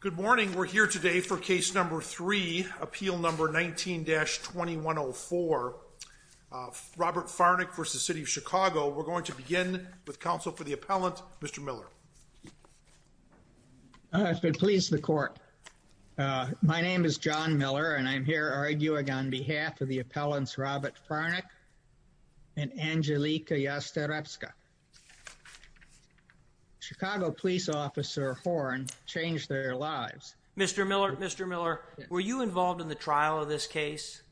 Good morning. We're here today for case number three, appeal number 19-2104, Robert Farnik v. City of Chicago. We're going to begin with counsel for the appellant, Mr. Miller. I've been pleased to court. My name is John Miller and I'm here arguing on behalf of the Mr. Miller, Mr. Miller, were you involved in the trial of this case?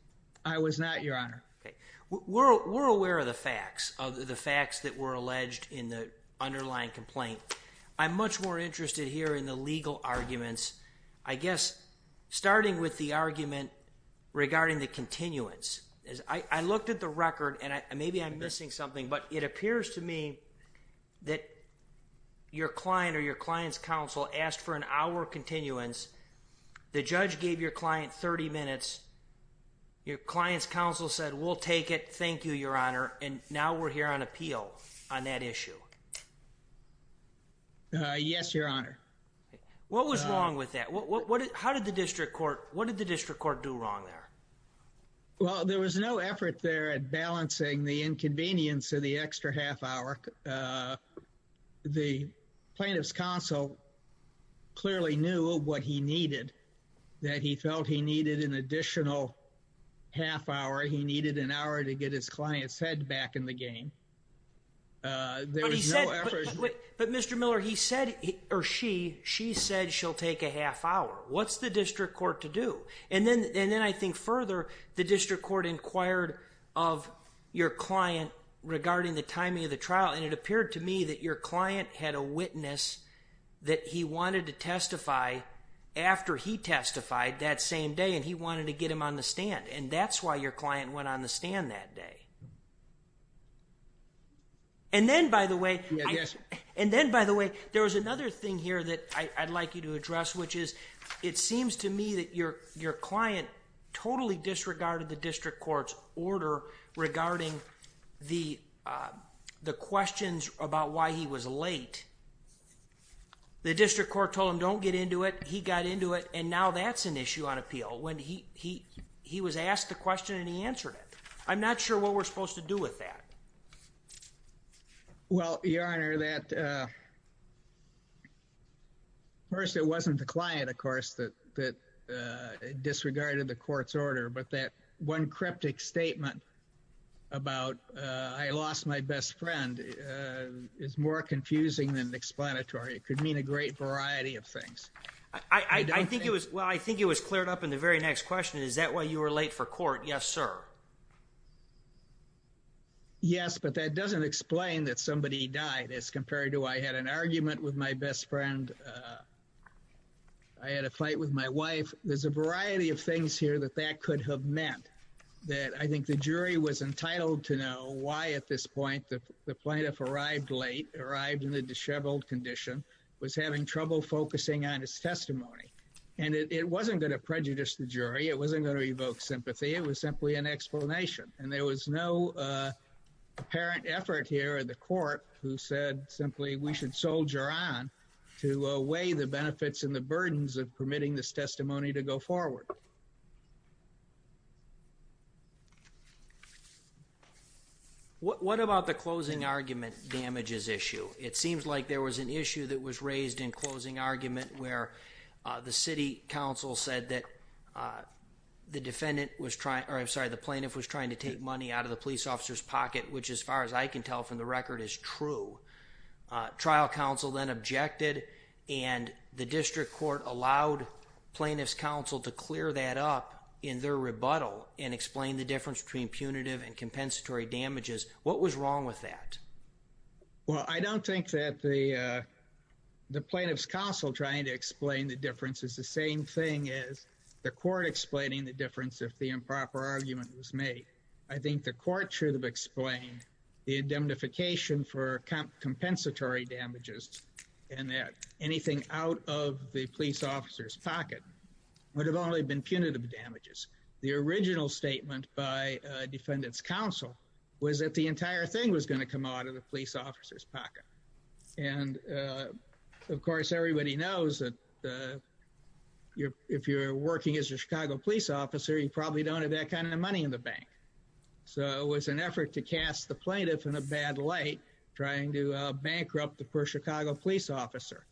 I was not, Your Honor. We're aware of the facts, of the facts that were alleged in the underlying complaint. I'm much more interested here in the legal arguments, I guess, starting with the argument regarding the continuance. I looked at the record and maybe I'm missing something, but it appears to me that your client or your client's counsel asked for an hour continuance. The judge gave your client 30 minutes. Your client's counsel said, we'll take it. Thank you, Your Honor. And now we're here on appeal on that issue. Yes, Your Honor. What was wrong with that? How did the district court, what did the district court do wrong there? Well, there was no effort there at all. The plaintiff's counsel clearly knew what he needed, that he felt he needed an additional half hour. He needed an hour to get his client's head back in the game. But Mr. Miller, he said, or she, she said she'll take a half hour. What's the district court to do? And then, and then I think further, the district court inquired of your client regarding the timing of the trial. And it appeared to me that your client had a witness that he wanted to testify after he testified that same day, and he wanted to get him on the stand. And that's why your client went on the stand that day. And then by the way, and then by the way, there was another thing here that I'd like you to address, which is, it seems to me that your, your client totally disregarded the district court's order regarding the, uh, the questions about why he was late. The district court told him, don't get into it. He got into it. And now that's an issue on appeal when he, he, he was asked the question and he answered it. I'm not sure what we're supposed to do with that. Well, your Honor, that, uh, first it wasn't the client, of course, that, uh, disregarded the court's order, but that one cryptic statement about, uh, I lost my best friend, uh, is more confusing than explanatory. It could mean a great variety of things. I think it was, well, I think it was cleared up in the very next question. Is that why you were late for court? Yes, sir. Yes, but that doesn't explain that somebody died as compared to I had an argument with my best friend. Uh, I had a fight with my wife. There's a variety of things here that that could have meant that I think the jury was entitled to know why at this point the plaintiff arrived late, arrived in the disheveled condition, was having trouble focusing on his testimony. And it wasn't going to prejudice the jury. It wasn't going to evoke sympathy. It was simply an explanation. And there was no, uh, apparent effort here in the court who said simply we should soldier on to weigh the benefits and the burdens of permitting this testimony to go forward. What about the closing argument damages issue? It seems like there was an issue that was raised in closing argument where, uh, the city council said that, uh, the defendant was trying, or I'm sorry, the plaintiff was trying to take money out of the police officer's pocket, which as far as I can tell from the record is true. Uh, trial council then objected and the district court allowed plaintiff's counsel to clear that up in their rebuttal and explain the difference between punitive and compensatory damages. What was wrong with that? Well, I don't think that the, uh, the plaintiff's counsel trying to explain the difference is the same thing as the court explaining the difference. If the improper argument was made, I think the court should have explained the indemnification for compensatory damages and that anything out of the police officer's pocket would have only been punitive damages. The original statement by a defendant's counsel was that the entire thing was going to your, if you're working as your Chicago police officer, you probably don't have that kind of money in the bank. So it was an effort to cast the plaintiff in a bad light, trying to bankrupt the Chicago police officer.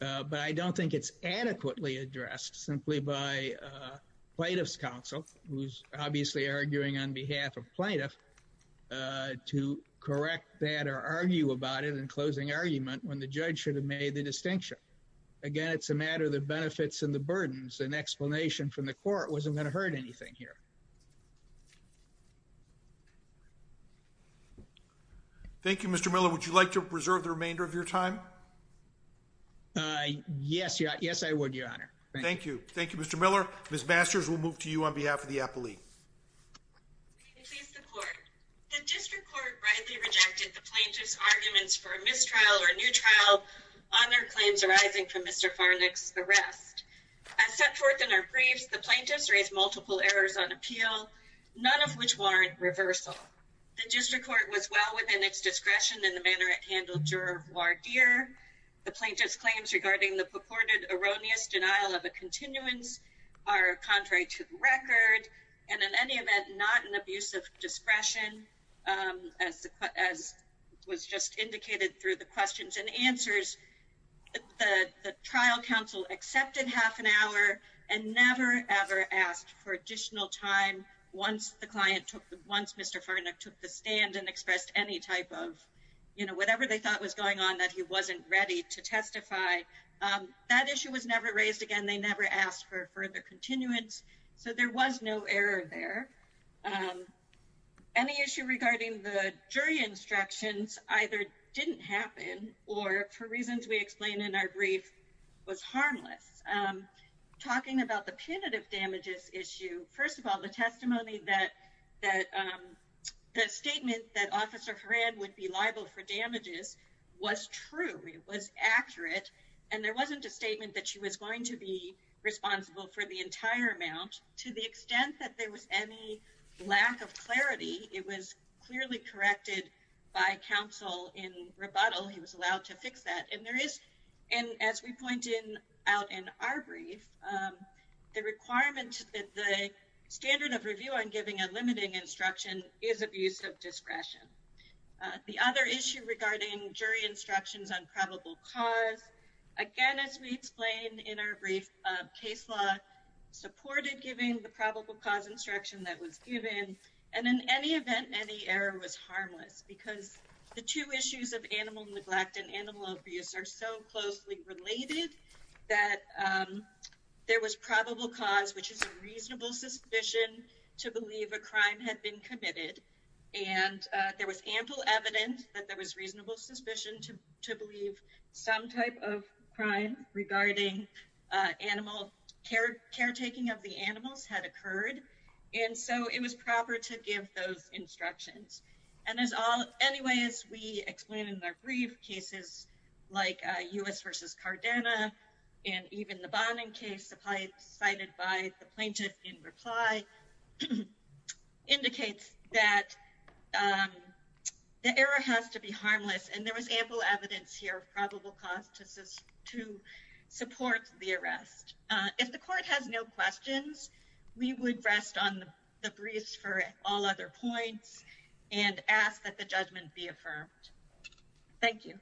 Uh, but I don't think it's adequately addressed simply by, uh, plaintiff's counsel who's obviously arguing on behalf of plaintiff, uh, to correct that or argue about it in closing argument when the judge should have made the distinction. Again, it's a matter of the benefits and the burdens and explanation from the court wasn't going to hurt anything here. Thank you, Mr. Miller. Would you like to preserve the remainder of your time? Uh, yes. Yes, I would. Your honor. Thank you. Thank you, Mr. Miller. Ms. Masters, we'll move to you on behalf of the appellee. The district court rightly rejected the plaintiff's arguments for a mistrial or a new trial on their claims arising from Mr. Farnick's arrest. As set forth in our briefs, the plaintiffs raised multiple errors on appeal, none of which warrant reversal. The district court was well within its discretion in the manner it handled juror voir dire. The plaintiff's claims regarding the purported erroneous denial of a continuance are contrary to the record and in any event not an abuse of the the trial counsel accepted half an hour and never ever asked for additional time once the client took once Mr. Farnick took the stand and expressed any type of, you know, whatever they thought was going on that he wasn't ready to testify. That issue was never raised again. They never asked for further continuance so there was no error there. Any issue regarding the jury instructions either didn't happen or for reasons we explained in our brief was harmless. Talking about the punitive damages issue, first of all the testimony that the statement that Officer Horan would be liable for damages was true. It was accurate and there wasn't a statement that she was going to be responsible for the entire amount. To the extent that there was any lack of clarity, it was clearly corrected by counsel in rebuttal. He was allowed to fix that and there is, and as we point in out in our brief, the requirement that the standard of review on giving a limiting instruction is abuse of discretion. The other issue regarding jury instructions on probable cause, again as we explained in our brief, case law supported giving the probable cause instruction that was given and in any event any error was harmless because the two issues of animal neglect and animal abuse are so closely related that there was probable cause which is a reasonable suspicion to believe a crime had been committed and there was ample evidence that there was reasonable suspicion to believe some type of crime regarding animal care, caretaking of the animals had occurred and so it was proper to give those instructions. And as all, anyway as we explained in our brief, cases like U.S. versus Cardena and even the Bonin case supplied cited by the plaintiff in reply indicates that the error has to be harmless and there was ample evidence here of probable cause to support the arrest. If the court has no questions, we would rest on the briefs for all other points and ask that the judgment be affirmed. Thank you.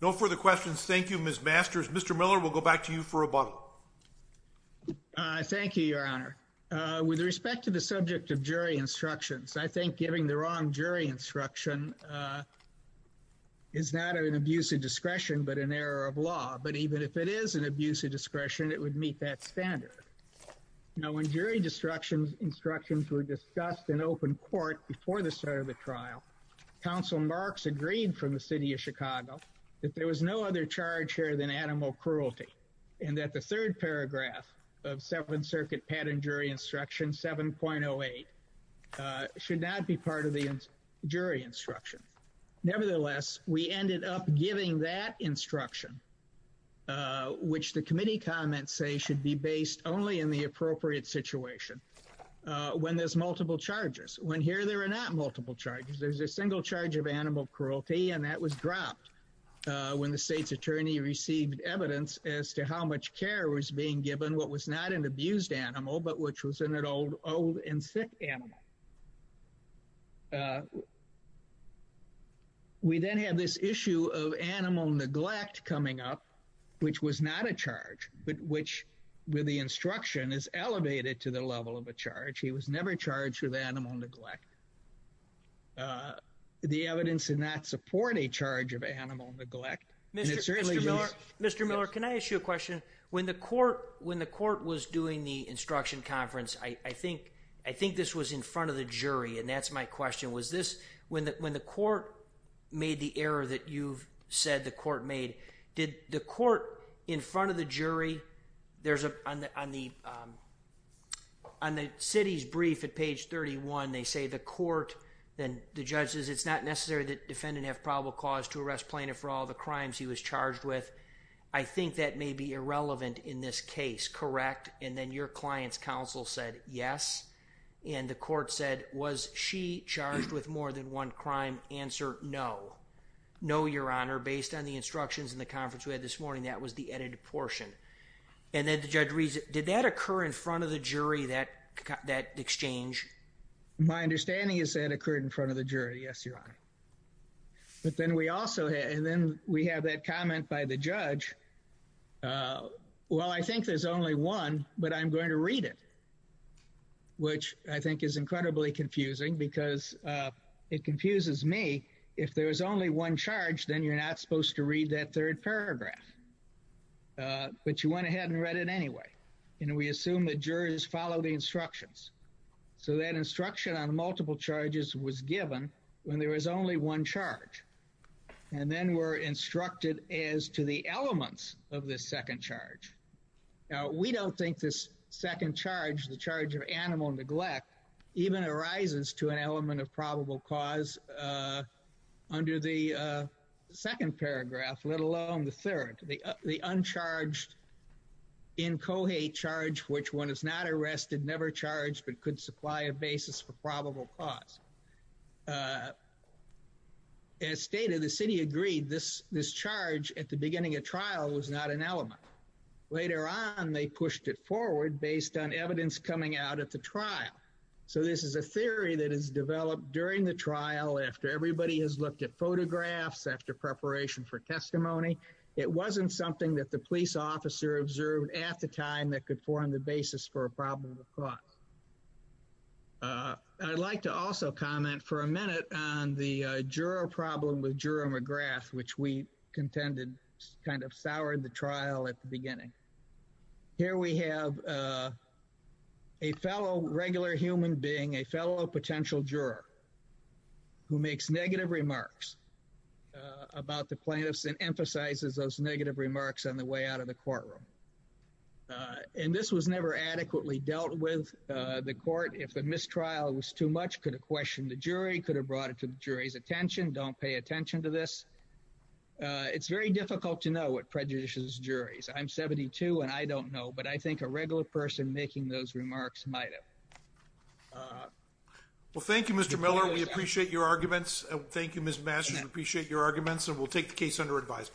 No further questions. Thank you, Ms. Masters. Mr. Miller, we'll go back to you for rebuttal. Thank you, your honor. With respect to the subject of jury instructions, I think giving the wrong jury instruction is not an abuse of discretion but an error of law. But even if it is an abuse of discretion, it would meet that standard. Now when jury instructions were discussed in open court before the start of the trial, counsel Marks agreed from the city of Chicago that there was no other charge here than animal cruelty and that the third paragraph of Seventh Circuit Patent Jury Instruction 7.08 should not be part of the jury instruction. Nevertheless, we ended up giving that instruction which the committee comments say should be based only in the appropriate situation when there's multiple charges. When here there are not multiple charges. There's a single charge of animal cruelty and that was dropped when the state's attorney received evidence as to how much care was being given what was not an abused animal but which was an old and sick animal. We then have this issue of animal neglect coming up which was not a charge but which with the instruction is elevated to the level of a charge. He was never charged with animal neglect. Mr. Miller, can I ask you a question? When the court was doing the instruction conference, I think this was in front of the jury and that's my question. When the court made the error that you've said the court made, did the court in front of the jury, on the city's brief at page 31, they say the court, the judges, it's not necessary that defendant have probable cause to arrest plaintiff for all the crimes he was charged with. I think that may be irrelevant in this case, correct? And then your client's counsel said yes and the court said was she charged with more than one crime? Answer, no. No, your honor. Based on the instructions in the conference we had this morning, that was the edited portion. And then the judge reads, did that occur in front of the jury that exchange? My understanding is that occurred in front of the jury, yes, your honor. But then we also had, and then we have that comment by the judge. Well, I think there's only one, but I'm going to read it, which I think is incredibly confusing because it confuses me. If there was only one charge, then you're not supposed to read that third paragraph. But you went ahead and read it anyway. And we assume that jurors follow the one charge. And then we're instructed as to the elements of this second charge. Now, we don't think this second charge, the charge of animal neglect, even arises to an element of probable cause under the second paragraph, let alone the third. The uncharged in Cohate charge, which one was not arrested, never charged, but could supply a basis for probable cause. As stated, the city agreed this charge at the beginning of trial was not an element. Later on, they pushed it forward based on evidence coming out at the trial. So this is a theory that is developed during the trial, after everybody has looked at photographs, after preparation for testimony. It wasn't something that the police officer observed at the time that could form the basis for a probable cause. I'd like to also comment for a minute on the juror problem with Juror McGrath, which we contended kind of soured the trial at the beginning. Here we have a fellow regular human being, a fellow potential juror, who makes negative remarks about the plaintiffs and emphasizes those negative remarks on the way out of the courtroom. And this was never adequately dealt with. The court, if the mistrial was too much, could have questioned the jury, could have brought it to the jury's attention. Don't pay attention to this. It's very difficult to know what prejudices juries. I'm 72, and I don't know, but I think a regular person making those remarks might have. Well, thank you, Mr. Miller. We appreciate your arguments. Thank you, Ms. Masters. We appreciate your arguments, and we'll take the